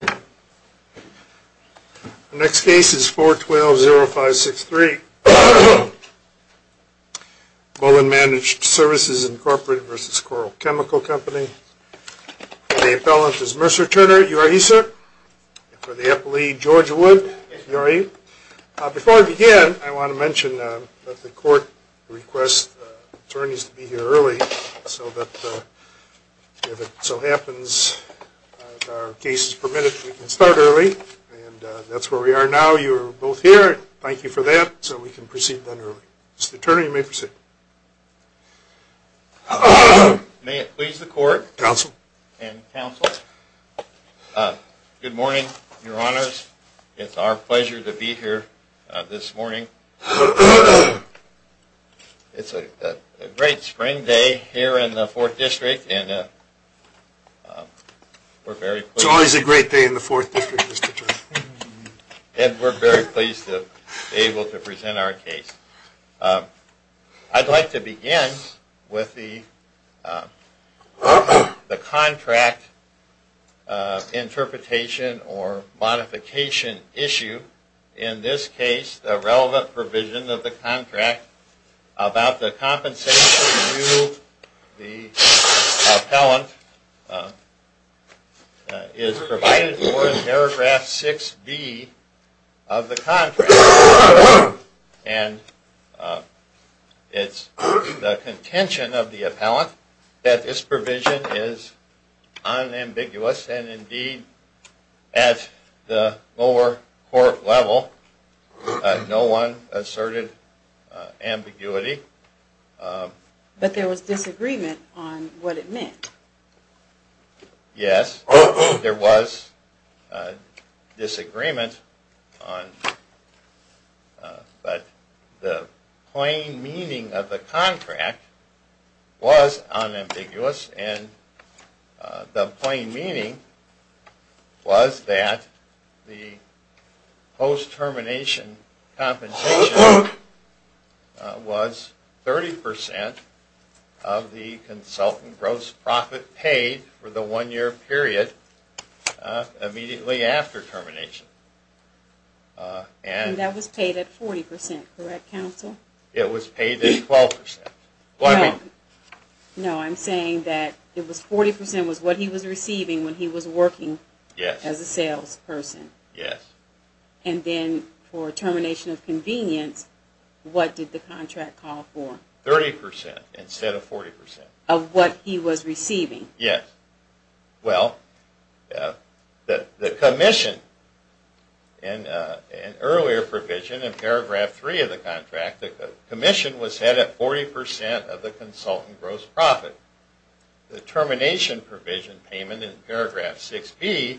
The next case is 412-0563, Boland Managed Services Incorporated v. Coral Chemical Company. The appellant is Mercer Turner. Before I begin, I want to mention that the court requests attorneys to be here early so that if it so happens that our case is permitted, we can start early. And that's where we are now. You are both here. Thank you for that. So we can proceed then early. Mr. Turner, you may proceed. May it please the court and counsel. Good morning, your honors. It's our pleasure to be here this morning. It's a great spring day here in the 4th District. It's always a great day in the 4th District, Mr. Turner. And we're very pleased to be able to present our case. I'd like to begin with the contract interpretation or modification issue. In this case, the relevant provision of the contract about the compensation due to the appellant is provided for in paragraph 6B of the contract. And it's the contention of the appellant that this provision is at the appropriate level. No one asserted ambiguity. But there was disagreement on what it meant. Yes, there was disagreement on but the plain meaning of the contract was unambiguous and the plain meaning was that the post-termination compensation was 30% of the consultant gross profit paid for the one year period immediately after termination. And that was paid at 40%, correct counsel? It was paid at 12%. No, I'm saying that 40% was what he was receiving when he was working as a salesperson. And then for termination of convenience, what did the contract call for? 30% instead of 40%. Of what he was receiving. Well, the commission in earlier provision in paragraph 3 of the contract, the commission was set at 40% of the consultant gross profit. The termination provision payment in paragraph 6B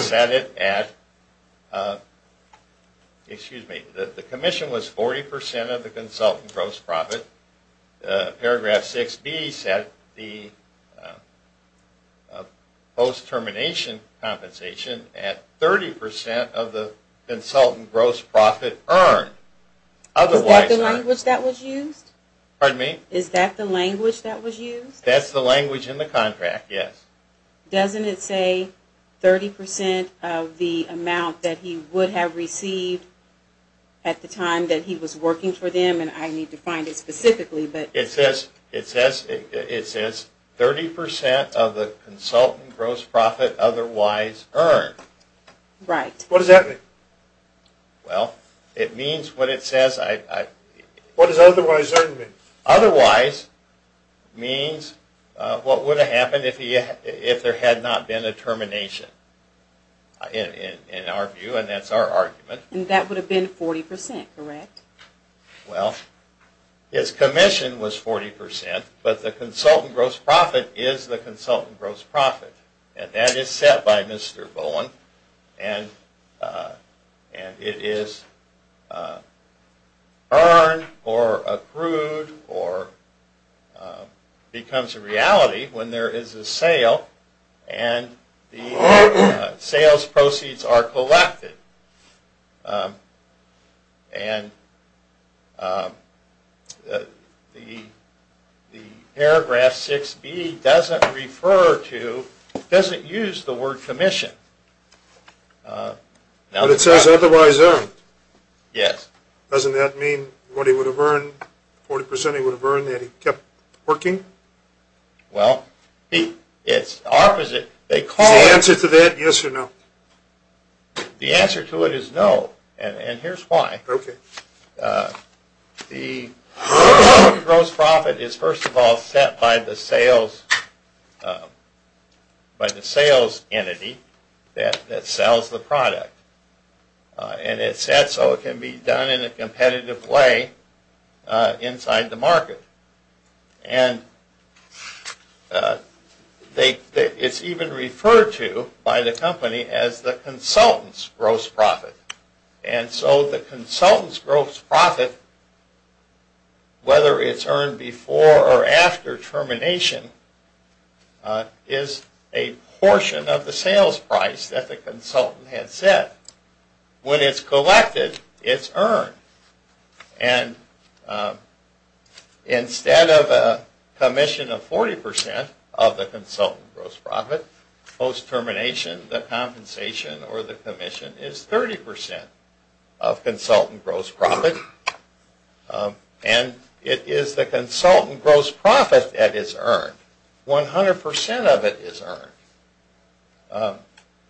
set it at, excuse me, the commission was 40% of the consultant gross profit. Paragraph 6B set the post-termination compensation at 30% of the consultant gross profit earned. Was that the language that was used? Pardon me? Is that the language that was used? That's the language in the contract, yes. Doesn't it say 30% of the amount that he would have received at the time that he was working for them? And I need to find it specifically. It says 30% of the consultant gross profit otherwise earned. Right. What does that mean? Well, it means what it says. What does otherwise earned mean? Otherwise means what would have happened if there had not been a termination, in our view, and that's our argument. And that would have been 40%, correct? Well, his commission was 40%, but the consultant gross profit is the consultant gross profit. And that is set by Mr. Bowen and it is earned or accrued or becomes a reality when there is a sale and the sales proceeds are collected. And the paragraph 6B doesn't refer to, doesn't use the word commission. But it says otherwise earned. Yes. Doesn't that mean what he would have earned, 40% he would have earned that he kept working? Well, it's opposite. Is the answer to that yes or no? The answer to it is no. And here's why. Okay. The gross profit is first of all set by the sales entity that sells the product. And it's set so it can be done in a competitive way inside the market. And it's even referred to by the company as the consultant's gross profit. And so the consultant's gross profit, whether it's earned before or after termination, is a portion of the sales price that the consultant had set. When it's collected, it's earned. And instead of a commission of 40% of the consultant's gross profit, post termination the compensation or the commission is 30% of consultant gross profit. And it is the consultant gross profit that is earned. 100% of it is earned.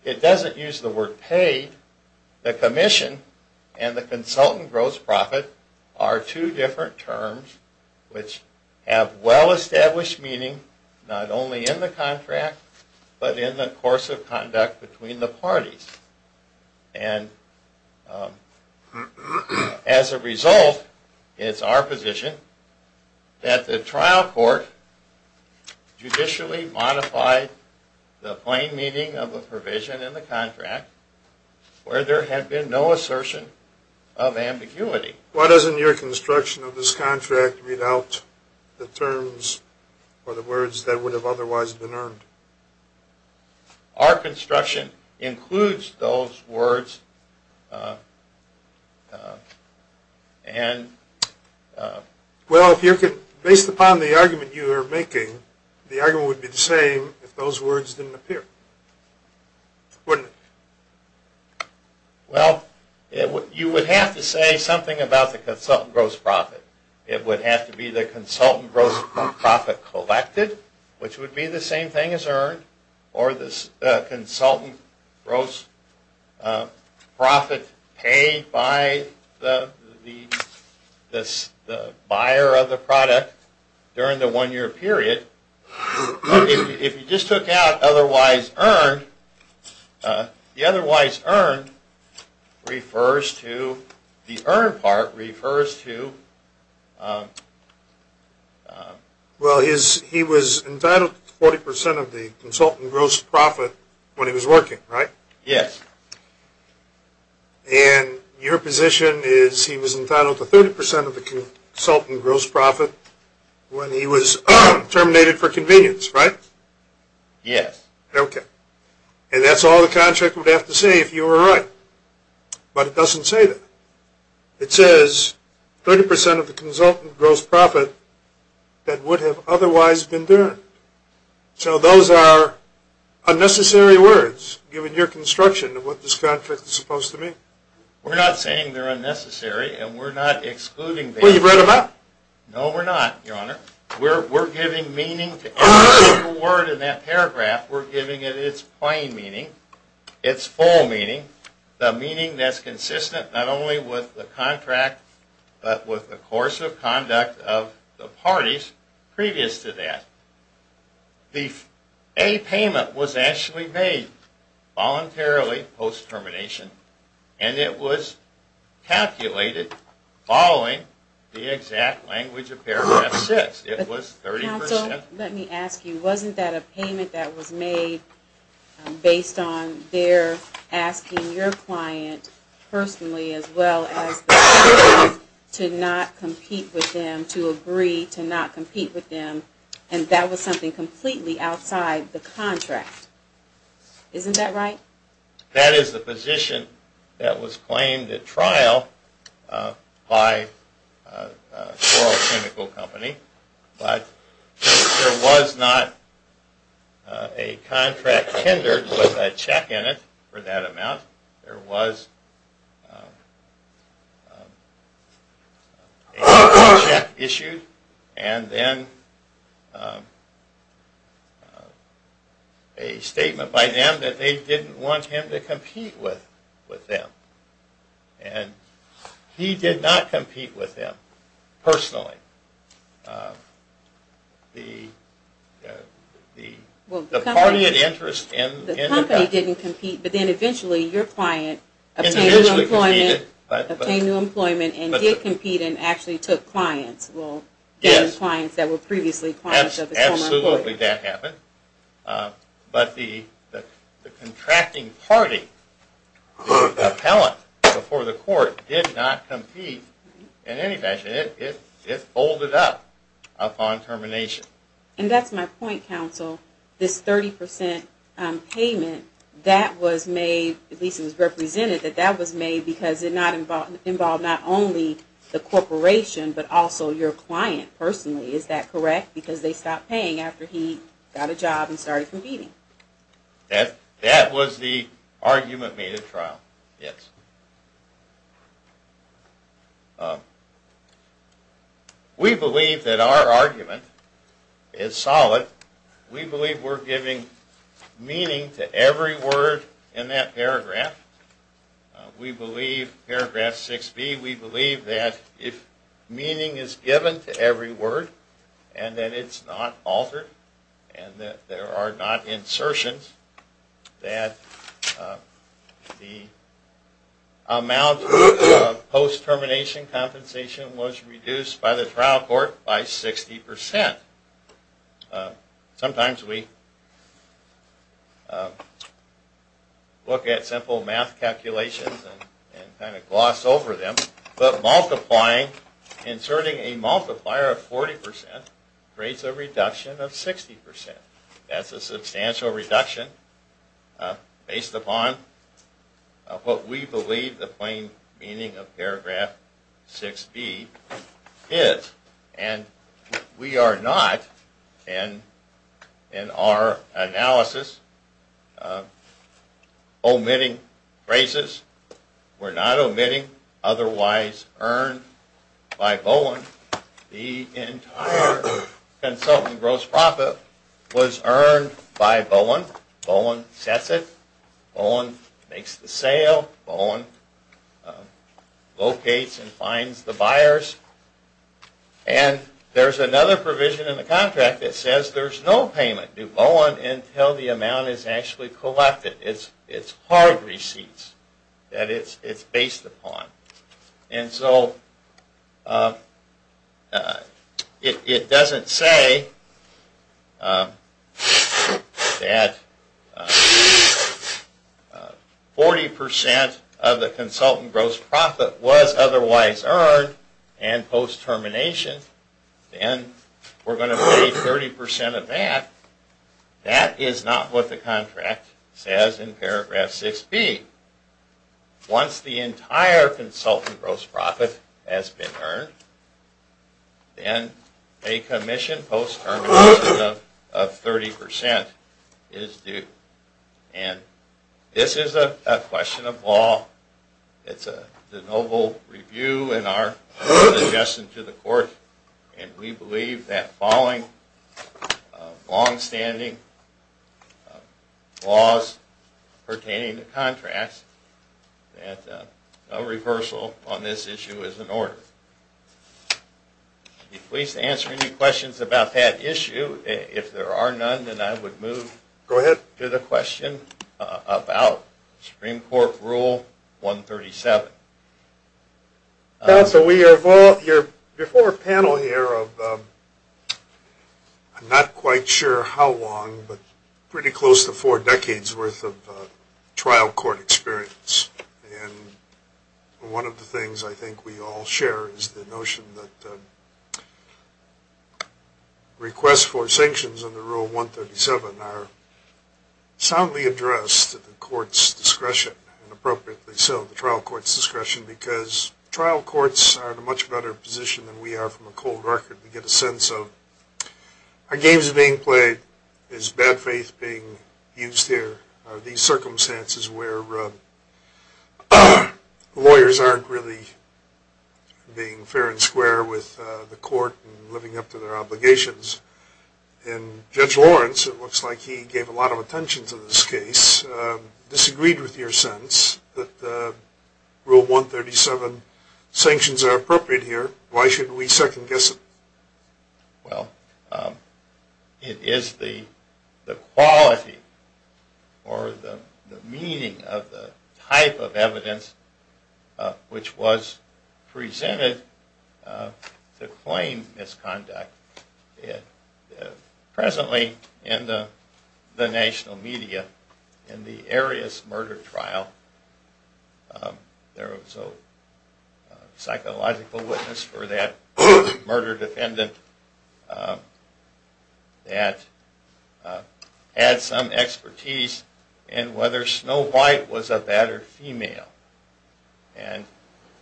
It doesn't use the word paid. The commission and the consultant gross profit are two different terms which have well established meaning not only in the contract but in the course of conduct between the parties. And as a result, it's our position that the trial court judicially modified the plain meaning of the provision in the contract where there had been no assertion of ambiguity. Why doesn't your construction of this contract read out the terms or the words that would have otherwise been earned? Our construction includes those words and... Well, based upon the argument you are making, the argument would be the same if those words didn't appear, wouldn't it? Well, you would have to say something about the consultant gross profit. It would have to be the consultant gross profit collected which would be the same thing as earned or the consultant gross profit paid by the buyer of the product during the one year period. If you just took out otherwise earned, the otherwise earned refers to... the earned part refers to... Well, he was entitled to 40% of the consultant gross profit when he was working, right? Yes. And your position is he was entitled to 30% of the consultant gross profit when he was terminated for convenience, right? Yes. Okay. And that's all the contract would have to say if you were right. But it doesn't say that. It says 30% of the consultant gross profit that would have otherwise been earned. So those are unnecessary words given your construction of what this contract is supposed to mean. We're not saying they're unnecessary and we're not excluding them. Well, you've read them up. No, we're not, Your Honor. We're giving meaning to every single word in that paragraph. We're giving it its plain meaning, its full meaning, the meaning that's consistent not only with the contract but with the course of conduct of the parties previous to that. A payment was actually made voluntarily post-termination and it was calculated following the exact language of paragraph 6. It was 30%. Counsel, let me ask you, wasn't that a payment that was made based on their asking your client personally as well as the consultant to not compete with them, to agree to not compete with them, and that was something completely outside the contract. Isn't that right? That is the position that was claimed at trial by Coral Chemical Company, but there was not a contract tendered with a check in it for that amount. There was a check issued and then a statement by them that they didn't want him to compete with them. And he did not compete with them personally. The party of interest in the company... The company didn't compete, but then eventually your client obtained new employment and did compete and actually took clients that were previously clients of his former employer. Absolutely that happened. But the contracting party appellant before the court did not compete in any fashion. It folded up upon termination. And that's my point, Counsel. This 30% payment that was made, at least it was represented that that was made because it involved not only the corporation but also your client personally. Is that correct? Because they stopped paying after he got a job and started competing. That was the argument made at trial. Yes. We believe that our argument is solid. We believe we're giving meaning to every word in that paragraph. We believe, paragraph 6B, we believe that if meaning is given to every word and that it's not altered and that there are not amounts of post-termination compensation was reduced by the trial court by 60%. Sometimes we look at simple math calculations and kind of gloss over them, but multiplying, inserting a multiplier of 40% creates a reduction of 60%. That's a substantial reduction based upon what we believe the plain meaning of paragraph 6B is. And we are not, in our analysis, omitting phrases. The entire consultant gross profit was earned by Bowen. Bowen sets it. Bowen makes the sale. Bowen locates and finds the buyers. And there's another provision in the contract that says there's no payment due Bowen until the amount is actually collected. It's hard receipts that it's based upon. It doesn't say that 40% of the consultant gross profit was otherwise earned and post-termination, then we're going to pay 30% of that. That is not what the contract says in paragraph 6B. Once the entire consultant gross profit has been earned, then a commission post-termination of 30% is due. And this is a question of law. It's a noble review in our suggestion to the court. And we believe that following longstanding laws pertaining to contracts that no reversal on this issue is in order. I'd be pleased to answer any questions about that issue. If there are none, then I would move to the question about Supreme Court Rule 137. Before our panel here, I'm not quite sure how long, but pretty close to four decades worth of trial court experience. And one of the things I think we all share is the notion that requests for sanctions under Rule 137 are soundly addressed at the court's discretion, and appropriately so, the trial court's discretion, because trial courts are in a much better position than we are from a cold record. We get a sense of, are games being played? Is bad faith being used here? Are these circumstances where lawyers aren't really being And Judge Lawrence, it looks like he gave a lot of attention to this case, disagreed with your sense that Rule 137 sanctions are appropriate here. Why should we second guess it? It is the quality or the meaning of the type of evidence which was presented to claim misconduct. Presently, in the national media, in the Arias murder trial, there was a psychological witness for that murder defendant that had some expertise in whether Snow White was a bad or female.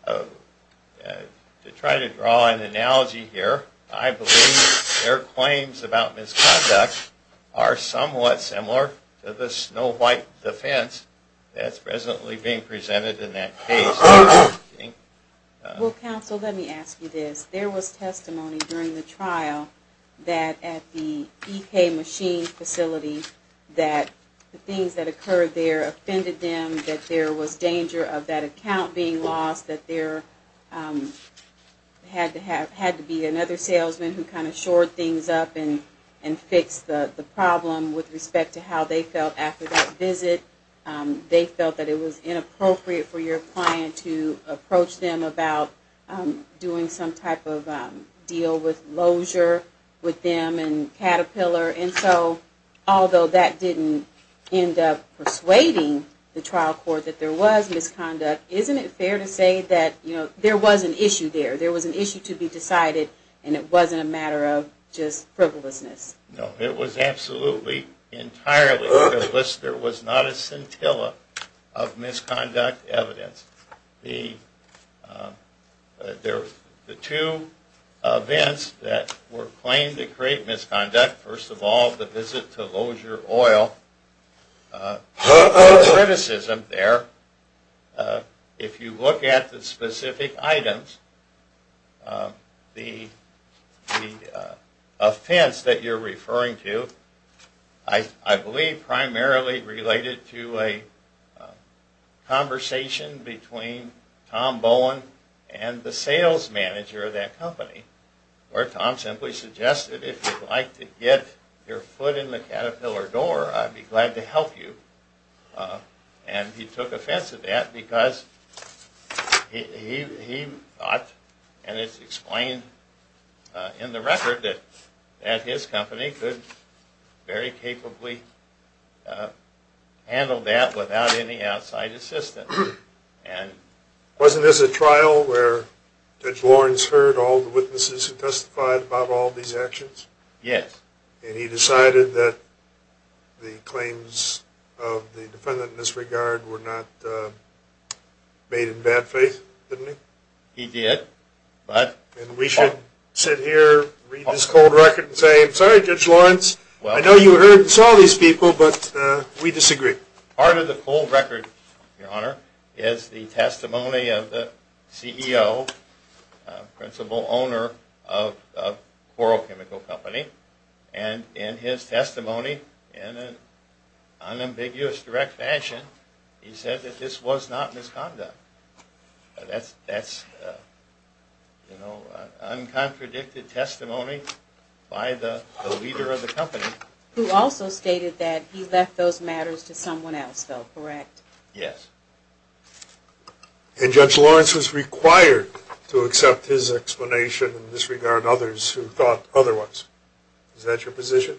To try to draw an analogy here, I believe their claims about misconduct are somewhat similar to the Snow White defense that's presently being presented in that case. Well, counsel, let me ask you this. There was testimony during the trial that at the time, there was danger of that account being lost, that there had to be another salesman who kind of shored things up and fixed the problem with respect to how they felt after that visit. They felt that it was inappropriate for your client to approach them about doing some type of deal with lozure with them and Caterpillar. Although that didn't end up persuading the trial court that there was misconduct, isn't it fair to say that there was an issue there? There was an issue to be decided and it wasn't a matter of just frivolousness? No, it was absolutely entirely frivolous. There was not a scintilla of misconduct evidence. There were two events that were claimed to create misconduct. First of all, the visit to Lozure Oil. No criticism there. If you look at the specific items, the offense that you're referring to, I believe primarily related to a conversation between Tom Bowen and the sales manager of that company, where Tom simply suggested, if you'd like to get your foot in the Caterpillar door, I'd be glad to help you. And he took offense at that because he thought, and it's explained in the record, that his company could very capably handle that without any outside assistance. Wasn't this a trial where Judge Lawrence heard all the witnesses who testified about all these actions? Yes. And he decided that the claims of the defendant in this regard were not made in bad faith, didn't he? He did. And we should sit here, read this cold record, and say, I'm sorry, Judge Lawrence, I know you heard and saw these people, but we disagree. Part of the cold record, Your Honor, is the testimony of the CEO, principal owner of Coral Chemical Company, and in his testimony, in an unambiguous direct fashion, he said that this was not misconduct. That's, you know, uncontradicted testimony by the leader of the company. Who also stated that he left those matters to someone else, though, correct? Yes. And Judge Lawrence was required to accept his explanation and disregard others who thought otherwise. Is that your position?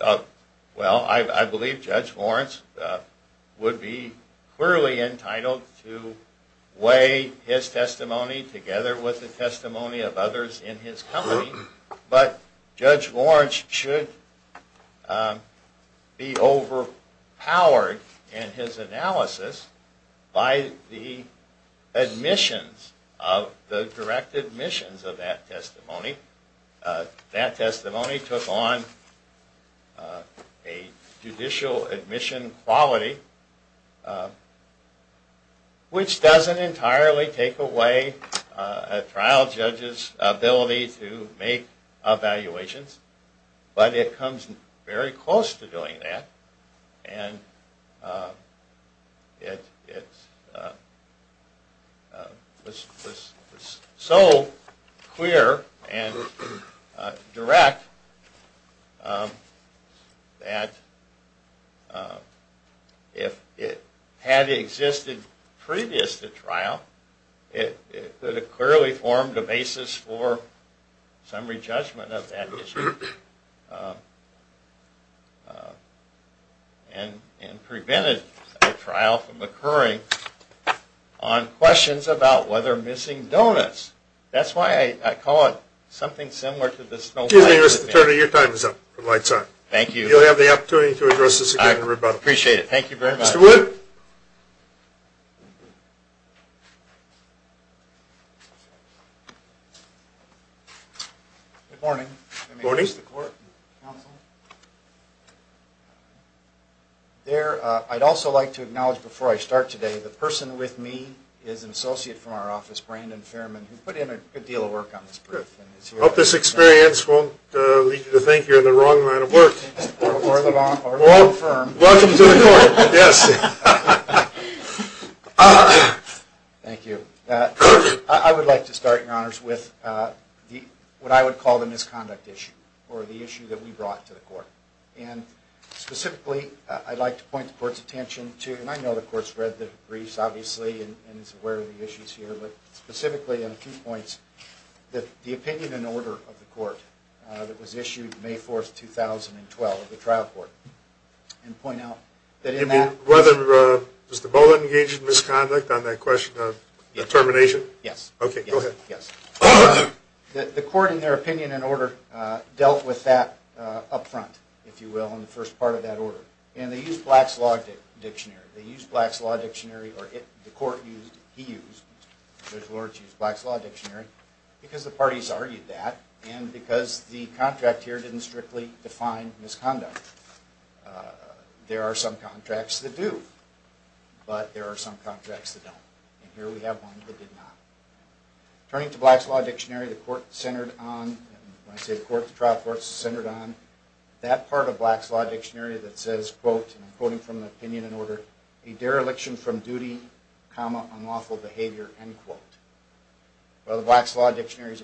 Well, I believe Judge Lawrence would be clearly entitled to weigh his testimony together with the testimony of others in his company, but Judge Lawrence should be overpowered in his analysis by the admissions, the direct admissions of that testimony. That testimony took on a judicial admission quality which doesn't entirely take away a trial judge's ability to make evaluations, but it comes very close to doing that, and it was so clear and direct that if it had existed previous to trial, it could have clearly formed a and prevented a trial from occurring on questions about whether missing donuts. That's why I call it something similar to the Snowflakes. Excuse me, Mr. Turner, your time is up. The light's on. Thank you. You'll have the opportunity to address this again in rebuttal. I appreciate it. Thank you very much. Mr. Wood. Good morning. Good morning. There, I'd also like to acknowledge before I start today, the person with me is an associate from our office, Brandon Fairman, who put in a good deal of work on this brief. I hope this experience won't lead you to think you're in the wrong line of work. Welcome to the court. Thank you. I would like to start, Your Honors, with what I would call the misconduct issue, or the issue that we brought to the court. And specifically, I'd like to point the court's attention to, and I know the court's read the briefs, obviously, and is aware of the issues here, but specifically in a few minutes, I'd like to bring it back to the court's resolution on July 4th, 2012, of the trial court. And point out that in that... Does the bullet engage in misconduct on that question of determination? Yes. Okay. Go ahead. The court, in their opinion and order, dealt with that up front, if you will, in the first part of that order. And they used Black's Law Dictionary. They used Black's Law Dictionary because the contract here didn't strictly define misconduct. There are some contracts that do, but there are some contracts that don't. And here we have one that did not. Turning to Black's Law Dictionary, the court centered on... When I say the court, the trial court centered on that part of Black's Law Dictionary that says, quote, and I'm quoting from the opinion and order, a dereliction from duty, comma, Black's Law Dictionary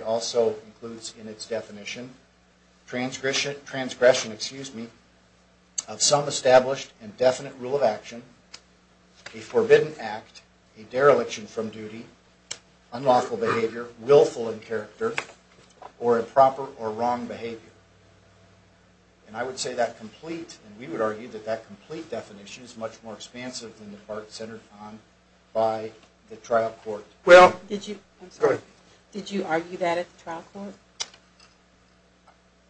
also includes in its definition, transgression, excuse me, of some established and definite rule of action, a forbidden act, a dereliction from duty, unlawful behavior, willful in character, or improper or wrong behavior. And I would say that complete, and we would argue that that complete definition is much more expansive than the part centered on by the trial court. Did you argue that at the trial court?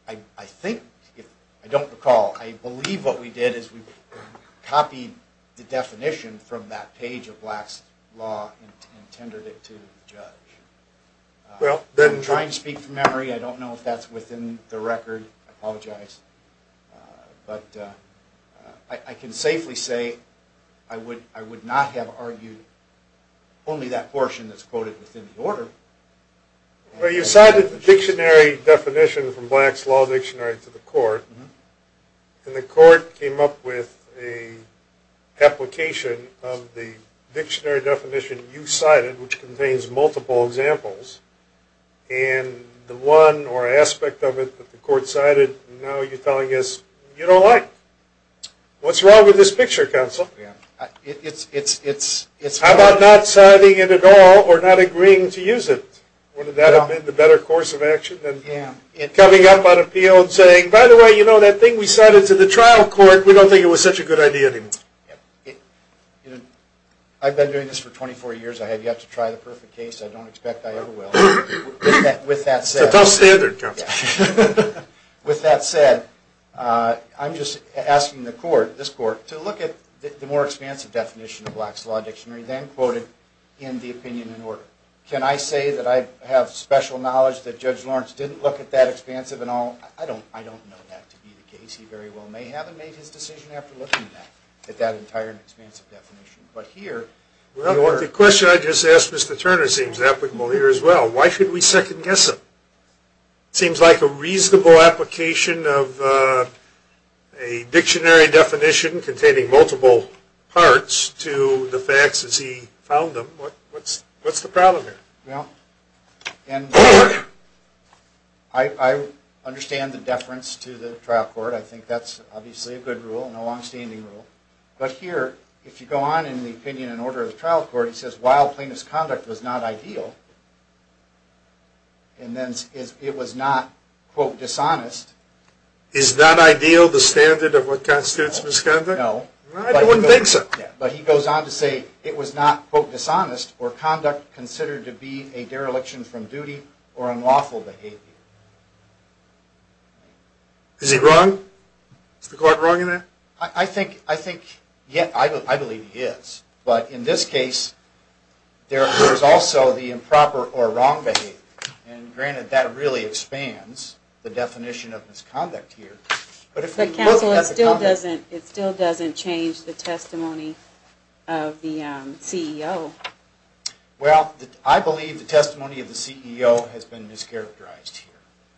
I don't recall. I believe what we did is we copied the definition from that page of Black's Law and tendered it to the judge. I'm trying to speak from memory. I don't know if that's within the record. I apologize. But I can safely say I would not have argued only that portion that's quoted within the order. Well, you cited the dictionary definition from Black's Law Dictionary to the court. And the court came up with an application of the dictionary definition you cited, which contains multiple examples. And the one or aspect of it that the court cited, now you're telling us you don't like. What's wrong with this picture, counsel? How about not citing it at all or not agreeing to use it? Wouldn't that have been the better course of action than coming up on appeal and saying, by the way, you know, that thing we cited to the trial court, we don't think it was such a good idea anymore. I've been doing this for 24 years. I have yet to try the perfect case. I don't expect I ever will. With that said, I'm just asking the court, this court, to look at the more expansive definition of Black's Law Dictionary then quoted in the opinion in order. Can I say that I have special knowledge that Judge Lawrence didn't look at that expansive at all? I don't know that to be the case. He very well may have made his decision after looking at that entire expansive definition. The question I just asked Mr. Turner seems applicable here as well. Why should we second guess him? It seems like a reasonable application of a dictionary definition containing multiple parts to the facts as he found them. What's the problem here? I understand the deference to the trial court. I think that's obviously a good rule and a long-standing rule. But here, if you go on in the opinion in order of the trial court, it says, while plain misconduct was not ideal, and then it was not quote dishonest. Is not ideal the standard of what constitutes misconduct? No. I wouldn't think so. But he goes on to say it was not quote dishonest or conduct considered to be a dereliction from duty or unlawful behavior. Is he wrong? Is the court wrong in that? I believe he is. But in this case, there is also the improper or wrong behavior. And granted that really expands the definition of misconduct here. But it still doesn't change the testimony of the CEO. Well, I believe the testimony of the CEO has been mischaracterized here.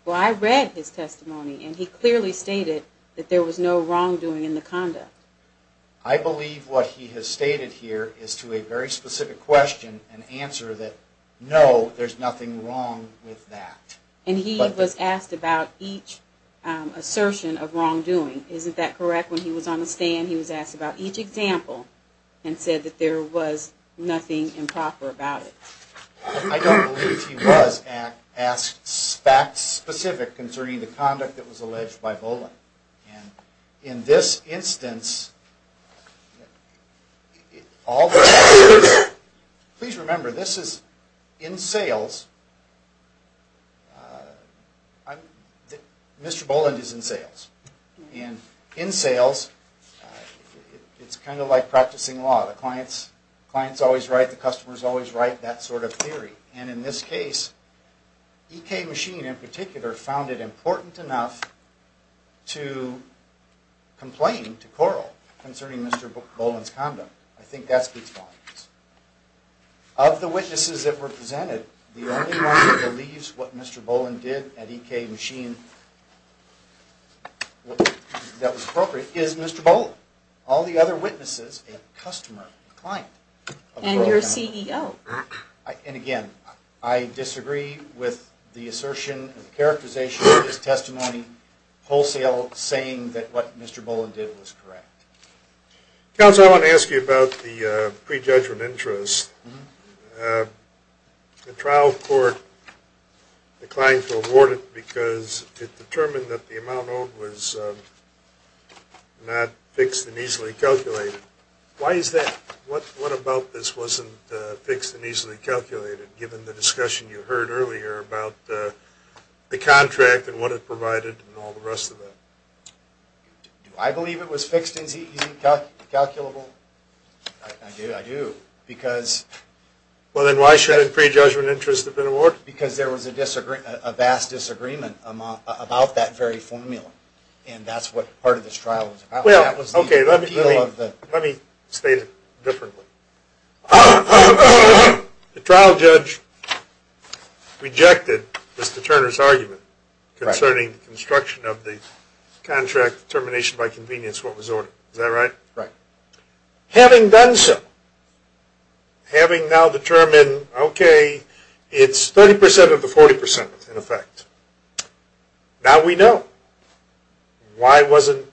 Well, I read his testimony and he clearly stated that there was no wrongdoing in the conduct. I believe what he has stated here is to a very specific question and answer that, no, there's nothing wrong with that. And he was asked about each assertion of wrongdoing. Isn't that correct? When he was on the stand, he was asked about each example and said that there was nothing improper about it. I don't believe he was asked facts specific concerning the conduct that was alleged by Boland. And in this instance, please remember, this is in sales. Mr. Boland is in sales. And in sales, it's kind of like practicing law. The client's always right, the customer's always right, that sort of theory. And in this case, EK Machine, in particular, found it important enough to complain to Corl concerning Mr. Boland's condom. I think that's the response. Of the witnesses that were presented, the only one that believes what Mr. Boland did at EK Machine that was appropriate is Mr. Boland. All the other witnesses, a customer, a client. And your CEO. And again, I disagree with the assertion and characterization of his testimony wholesale saying that what Mr. Boland did was correct. Counsel, I want to ask you about the pre-judgment interest. The trial court declined to award it because it determined that the amount owed was not fixed and easily calculated. Why is that? What about this wasn't fixed and easily calculated, given the discussion you heard earlier about the contract and what it provided and all the rest of it? Do I believe it was fixed and easily calculable? I do. Because... Well, then why shouldn't pre-judgment interest have been awarded? Because there was a vast disagreement about that very formula. And that's what part of this trial was about. Well, okay. Let me state it differently. The trial judge rejected Mr. Turner's argument concerning the construction of the contract determination by convenience what was ordered. Is that right? Right. Having done so, having now determined, okay, it's 30% of the 40%, in effect. Now we know. Why wasn't,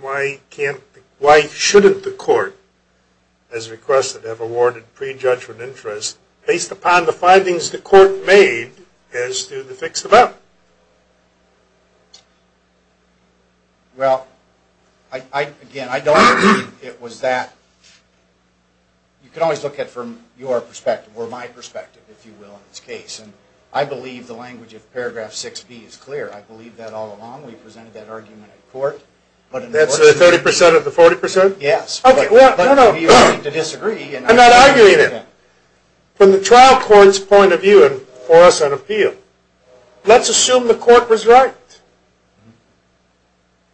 why can't, why shouldn't the court, as requested, have awarded pre-judgment interest based upon the findings the court made as to the fixed amount? Well, I, again, I don't believe it was that. You can always look at it from your perspective, or my perspective, if you will, in this case. And I believe the language of paragraph 6b is clear. I believe that all along. We presented that argument at court. That's the 30% of the 40%? Yes. Okay, well, no, no, I'm not arguing it. From the trial court's point of view, and for us on appeal, let's assume the court was right.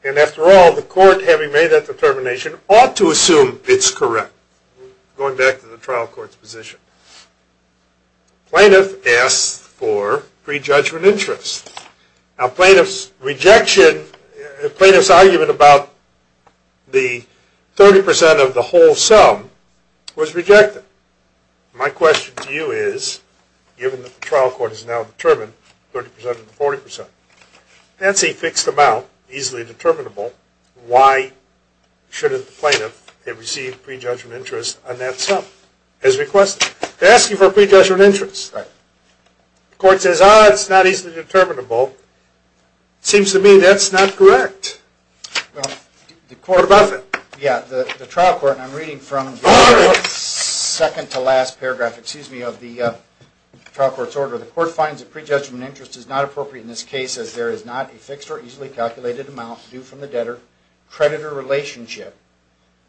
And after all, the court, having made that determination, ought to assume it's correct. Going back to the trial court's position. Plaintiff asked for pre-judgment interest. Now plaintiff's rejection, plaintiff's argument about the 30% of the whole sum was rejected. My question to you is, given that the trial court has now determined 30% of the 40%, that's a fixed amount, easily determinable. Why shouldn't the plaintiff have received pre-judgment interest on that sum, as requested? They ask you for pre-judgment interest. The court says, ah, it's not easily determinable. Seems to me that's not correct. The trial court, and I'm reading from the second to last paragraph of the trial court's order, the court finds that pre-judgment interest is not appropriate in this case, as there is not a fixed or easily calculated amount due from the debtor-creditor relationship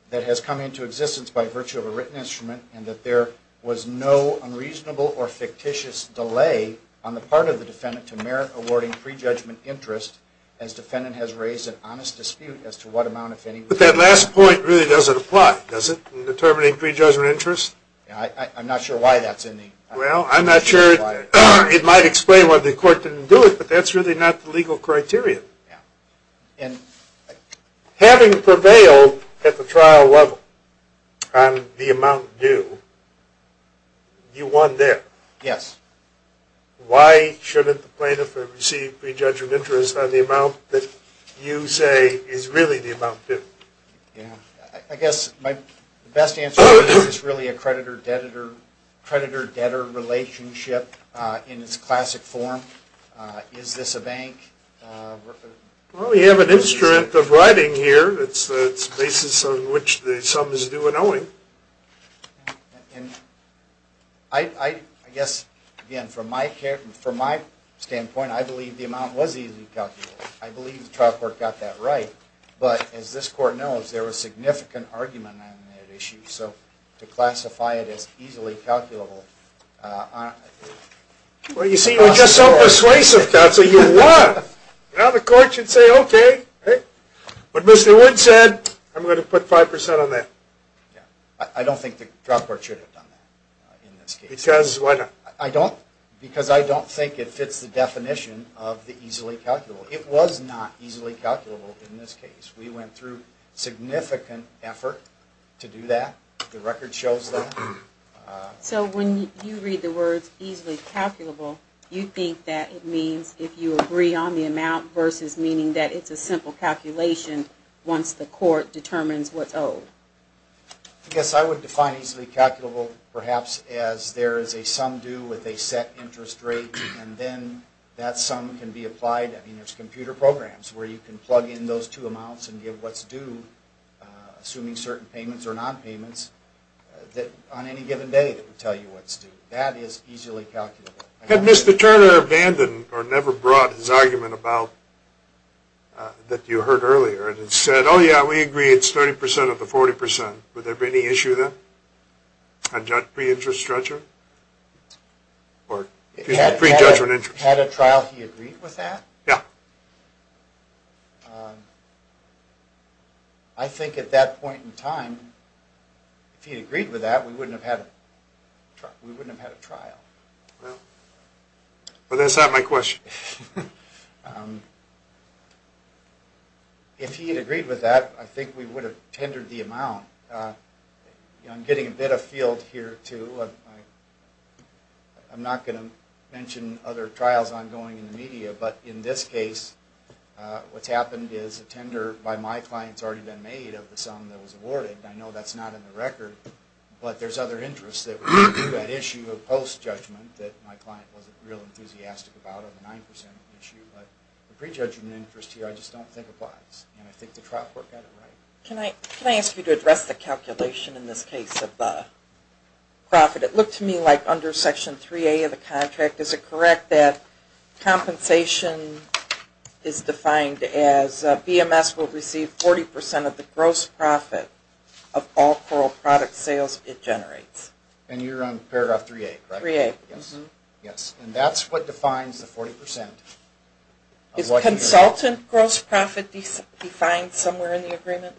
that has come into existence by virtue of a written instrument, and that there was no unreasonable or fictitious delay on the part of the defendant to merit awarding pre-judgment interest, as defendant has raised an honest dispute as to what amount, if any, was due. But that last point really doesn't apply, does it, in determining pre-judgment interest? I'm not sure why that's in the... Well, I'm not sure it might explain why the court didn't do it, but that's really not the legal criteria. Having prevailed at the trial level on the amount due, you won there. Yes. Why shouldn't the plaintiff receive pre-judgment interest on the amount that you say is really the amount due? I guess my best answer is it's really a creditor-debtor relationship in its classic form. Is this a bank? Well, you have an instrument of writing here. It's the basis on which the sum is due in owing. I guess, again, from my standpoint, I believe the amount was easily calculable. I believe the trial court got that right. But, as this court knows, there was significant argument on that issue. So, to classify it as easily calculable... Well, you see, you were just so persuasive, counsel, you won! Now the court should say, okay, what Mr. Wood said, I'm going to put 5% on that. I don't think the trial court should have done that in this case. Because I don't think it fits the definition of the easily calculable. It was not easily calculable in this case. We went through significant effort to do that. The record shows that. So, when you read the words easily calculable, you think that it means if you agree on the amount versus meaning that it's a simple calculation once the court determines what's owed. I guess I would define easily calculable perhaps as there is a sum due with a set interest rate, and then that sum can be applied. I mean, there's computer programs where you can plug in those two amounts and give what's due, assuming certain payments or non-payments, on any given day that will tell you what's due. That is easily calculable. Had Mr. Turner abandoned or never brought his argument about... that you heard earlier and said, oh yeah, we agree, it's 30% of the 40%. Would there be any issue then on pre-judgment interest? Had a trial he agreed with that? Yeah. I think at that point in time, if he had agreed with that, we wouldn't have had a trial. Well, that's not my question. If he had agreed with that, I think we would have tendered the amount. I'm getting a bit of field here too. I'm not going to mention other trials ongoing in the media, but in this case, what's happened is a tender by my client has already been made of the sum that was awarded. I know that's not in the record, but there's other interests that were due to that issue of post-judgment that my client wasn't real enthusiastic about, over 9% of the issue, but the pre-judgment interest here I just don't think applies. And I think the trial court got it right. Can I ask you to address the calculation in this case of the profit? It looked to me like under Section 3A of the contract, is it correct that compensation is defined as BMS will receive 40% of the gross profit of all coral product sales it generates? And you're on Paragraph 3A, correct? 3A. Yes. And that's what defines the 40%. Is consultant gross profit defined somewhere in the agreement?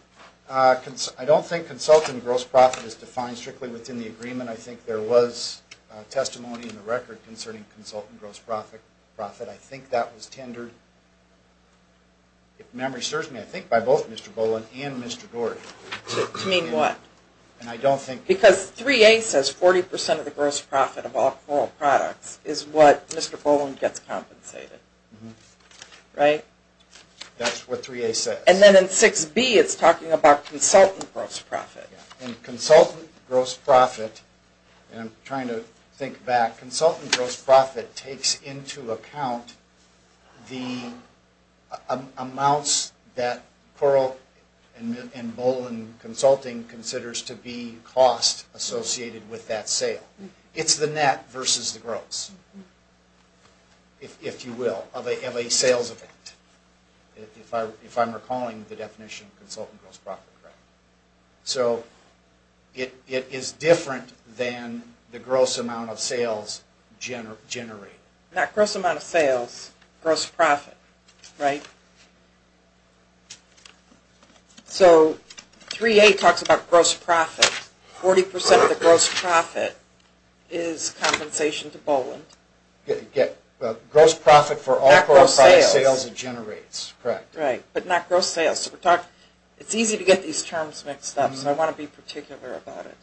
I don't think consultant gross profit is defined strictly within the agreement. I think there was testimony in the record concerning consultant gross profit. I think that was tendered, if memory serves me, I think by both Mr. Boland and Mr. Gordy. To mean what? And I don't think... Because 3A says 40% of the gross profit of all coral products is what Mr. Boland gets compensated. Right? That's what 3A says. And then in 6B it's talking about consultant gross profit. And consultant gross profit, and I'm trying to think back, consultant gross profit takes into account the amounts that coral and Boland Consulting considers to be cost associated with that sale. It's the net versus the gross, if you will, of a sales event. If I'm recalling the definition of consultant gross profit. So it is different than the gross amount of sales generated. Not gross amount of sales, gross profit, right? So 3A talks about gross profit. 40% of the gross profit is compensation to Boland. Gross profit for all coral product sales it generates. Correct. Right. But not gross sales. It's easy to get these terms mixed up, so I want to be particular about it.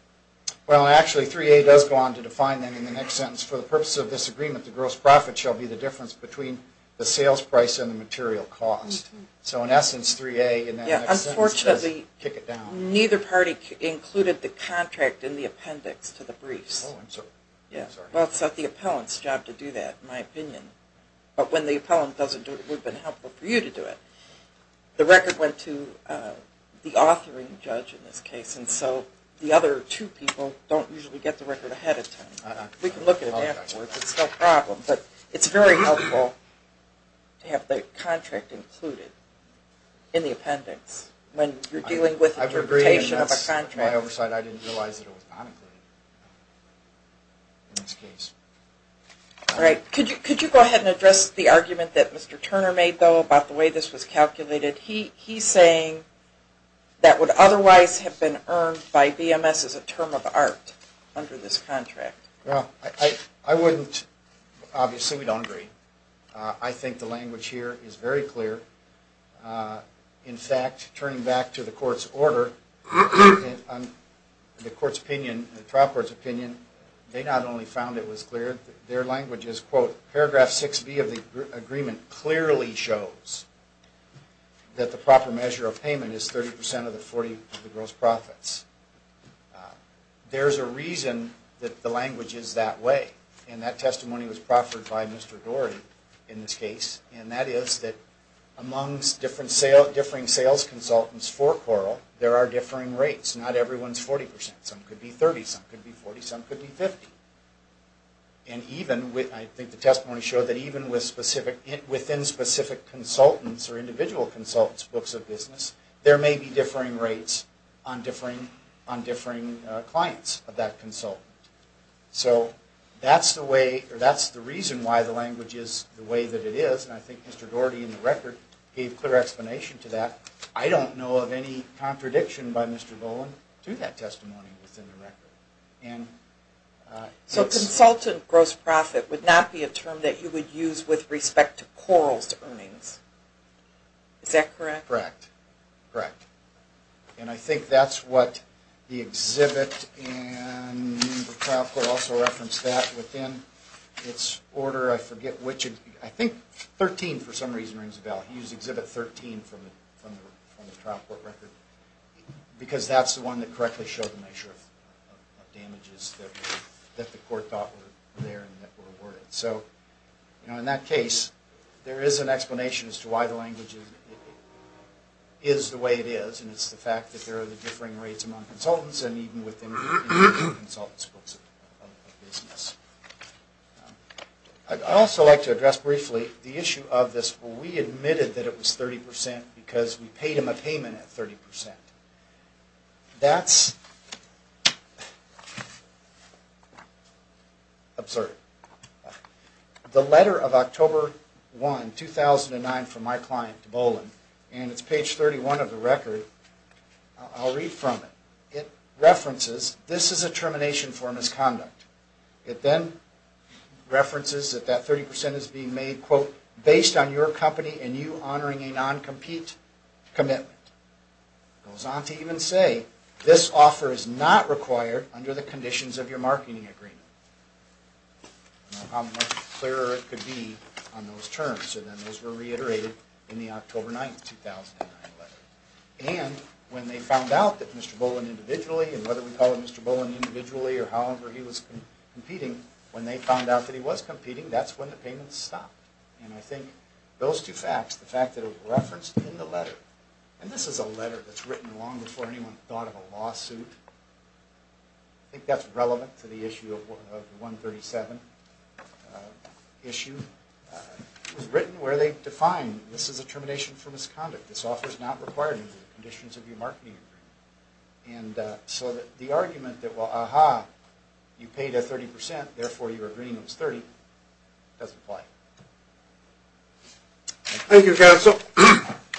Well, actually 3A does go on to define that in the next sentence. For the purpose of this agreement, the gross profit shall be the difference between the sales price and the material cost. So in essence, 3A in that next sentence does kick it down. Unfortunately, neither party included the contract in the appendix to the briefs. Well, it's not the appellant's job to do that, in my opinion. But when the appellant doesn't do it, it would have been helpful for you to do it. The record went to the authoring judge in this case, and so the other two people don't usually get the record ahead of time. We can look at it afterwards. It's no problem. But it's very helpful to have the contract included in the appendix when you're looking at it. I agree, and that's my oversight. I didn't realize it was not included in this case. All right. Could you go ahead and address the argument that Mr. Turner made, though, about the way this was calculated? He's saying that would otherwise have been earned by BMS as a term of art under this contract. Well, I wouldn't. Obviously, we don't agree. I think the language here is very clear. In fact, turning back to the court's order and the trial court's opinion, they not only found it was clear, their language is, quote, paragraph 6B of the agreement clearly shows that the proper measure of payment is 30 percent of the 40 gross profits. There's a reason that the language is that way. And that testimony was proffered by Mr. Dorey in this case. And that is that amongst differing sales consultants for Coral, there are differing rates. Not everyone's 40 percent. Some could be 30, some could be 40, some could be 50. And even, I think the testimony showed that even within specific consultants or individual consultants' books of business, there may be differing rates on differing clients of that consultant. So that's the way, or that's the reason why the language is the way that it is. And I think Mr. Dorey in the record gave clear explanation to that. I don't know of any contradiction by Mr. Bowen to that testimony within the record. So consultant gross profit would not be a term that you would use with respect to Coral's And I think that's what the exhibit and the trial court also referenced that within its order. I forget which, I think 13 for some reason rings a bell. He used exhibit 13 from the trial court record because that's the one that correctly showed the measure of damages that the court thought were there and that were awarded. So in that case, there is an explanation as to why the language is the way it is. And it's the fact that there are the differing rates among consultants and even within individual consultants' books of business. I'd also like to address briefly the issue of this where we admitted that it was 30 percent because we paid him a payment at 30 percent. That's absurd. The letter of October 1, 2009 from my client, Bowen, and it's page 31 of the record. I'll read from it. It references this is a termination for misconduct. It then references that that 30 percent is being made, quote, based on your company and you honoring a non-compete commitment. It goes on to even say this offer is not required under the conditions of your marketing agreement. I don't know how much clearer it could be on those terms. So then those were reiterated in the October 9, 2009 letter. And when they found out that Mr. Bowen individually, and whether we call him Mr. Bowen individually or however he was competing, when they found out that he was competing, that's when the payments stopped. And I think those two facts, the fact that it was referenced in the letter, and this is a letter that's written long before anyone thought of a lawsuit. I think that's relevant to the issue of 137 issue. It was written where they defined this is a termination for misconduct. This offer is not required under the conditions of your marketing agreement. And so the argument that, well, aha, you paid 30 percent, therefore your agreement is 30, doesn't apply. Thank you, Counsel.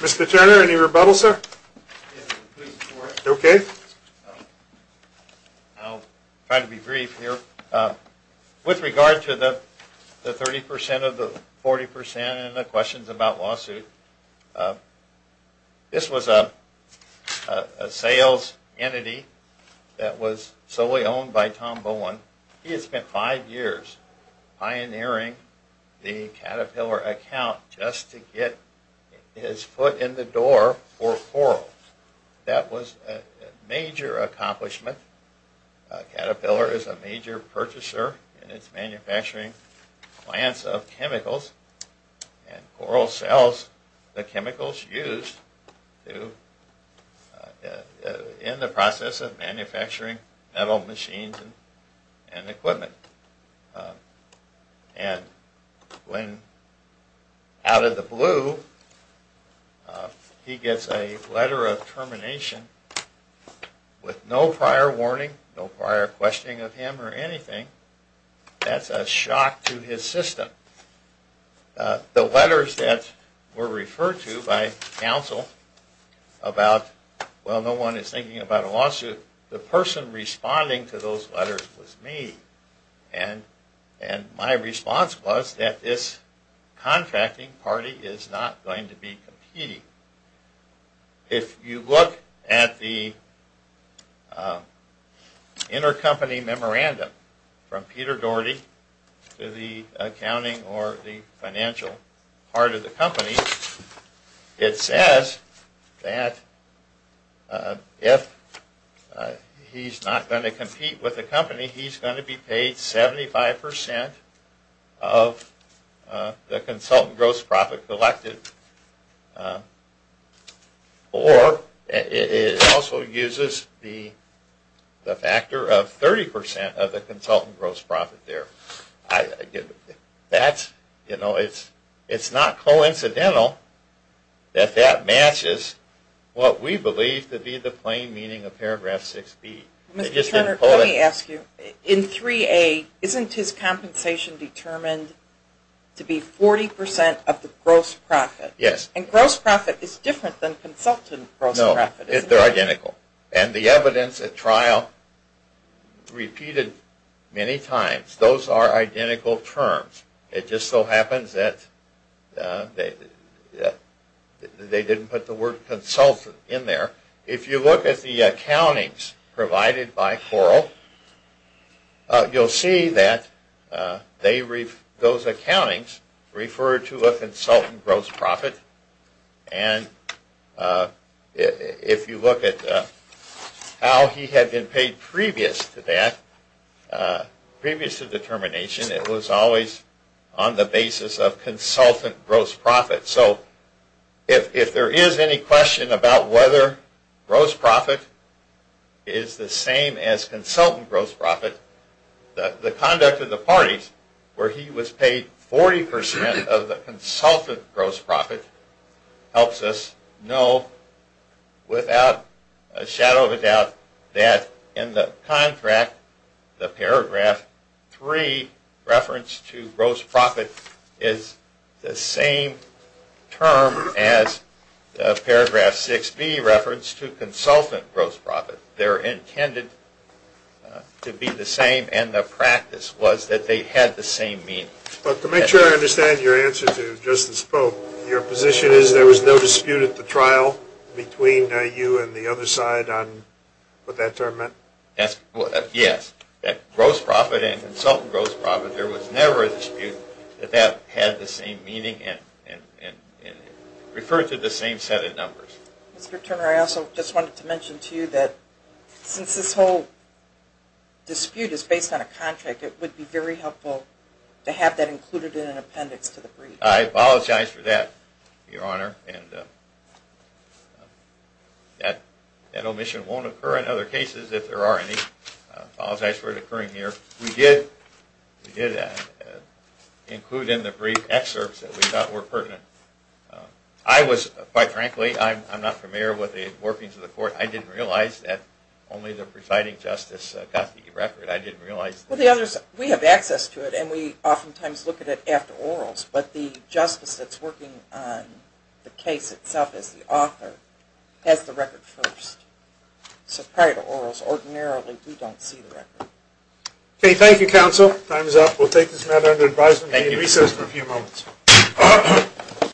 Mr. Turner, any rebuttals, sir? Okay. I'll try to be brief here. With regard to the 30 percent of the 40 percent and the questions about lawsuit, this was a sales entity that was solely owned by Tom Bowen. He had spent five years pioneering the Caterpillar account just to get his foot in the door for coral. That was a major accomplishment. Caterpillar is a major purchaser in its manufacturing plants of chemicals and in the process of manufacturing metal machines and equipment. And when out of the blue he gets a letter of termination with no prior warning, no prior questioning of him or anything, that's a shock to his system. The letters that were referred to by Counsel about, well, no one is thinking about a lawsuit, the person responding to those letters was me. And my response was that this contracting party is not going to be competing. If you look at the intercompany memorandum from Peter Doherty to the accounting or the financial part of the company, it says that if he's not going to compete with the company, he's going to be paid 75 percent of the consultant gross profit collected or it also uses the factor of 30 percent of the consultant gross profit there. It's not coincidental that that matches what we believe to be the plain meaning of paragraph 6B. Let me ask you, in 3A, isn't his compensation determined to be 40 percent of the gross profit? Yes. And gross profit is different than consultant gross profit, isn't it? No, they're identical. And the evidence at trial, repeated many times, those are identical terms. It just so happens that they didn't put the word consultant in there. If you look at the accountings provided by Corl, you'll see that those accountings refer to a consultant gross profit and if you look at how he had been paid previous to that, previous to the termination, it was always on the basis of consultant gross profit. So if there is any question about whether gross profit is the same as consultant gross profit, the conduct of the parties where he was paid 40 percent of the consultant gross profit helps us know without a shadow of a doubt that in the contract, the paragraph 3 reference to gross profit is the same term as the paragraph 6B reference to consultant gross profit. They're intended to be the same and the practice was that they had the same meaning. But to make sure I understand your answer to Justice Pope, your position is there was no dispute at the trial between you and the other side on what that term meant? Yes. That gross profit and consultant gross profit, there was never a dispute that that had the same meaning and referred to the same set of numbers. Mr. Turner, I also just wanted to mention to you that since this whole dispute is based on a contract, it would be very helpful to have that included in an appendix to the brief. I apologize for that, Your Honor, and that omission won't occur in other cases if there are any. I apologize for it occurring here. We did include in the brief excerpts that we thought were pertinent. I was, quite frankly, I'm not familiar with the workings of the court. I didn't realize that only the presiding justice got the record. I didn't realize... We have access to it and we oftentimes look at it after orals, but the justice that's working on the case itself as the author has the record first. So prior to orals, ordinarily, we don't see the record. Thank you, counsel. Time is up. We'll take this matter under advisement. We'll be in recess for a few moments.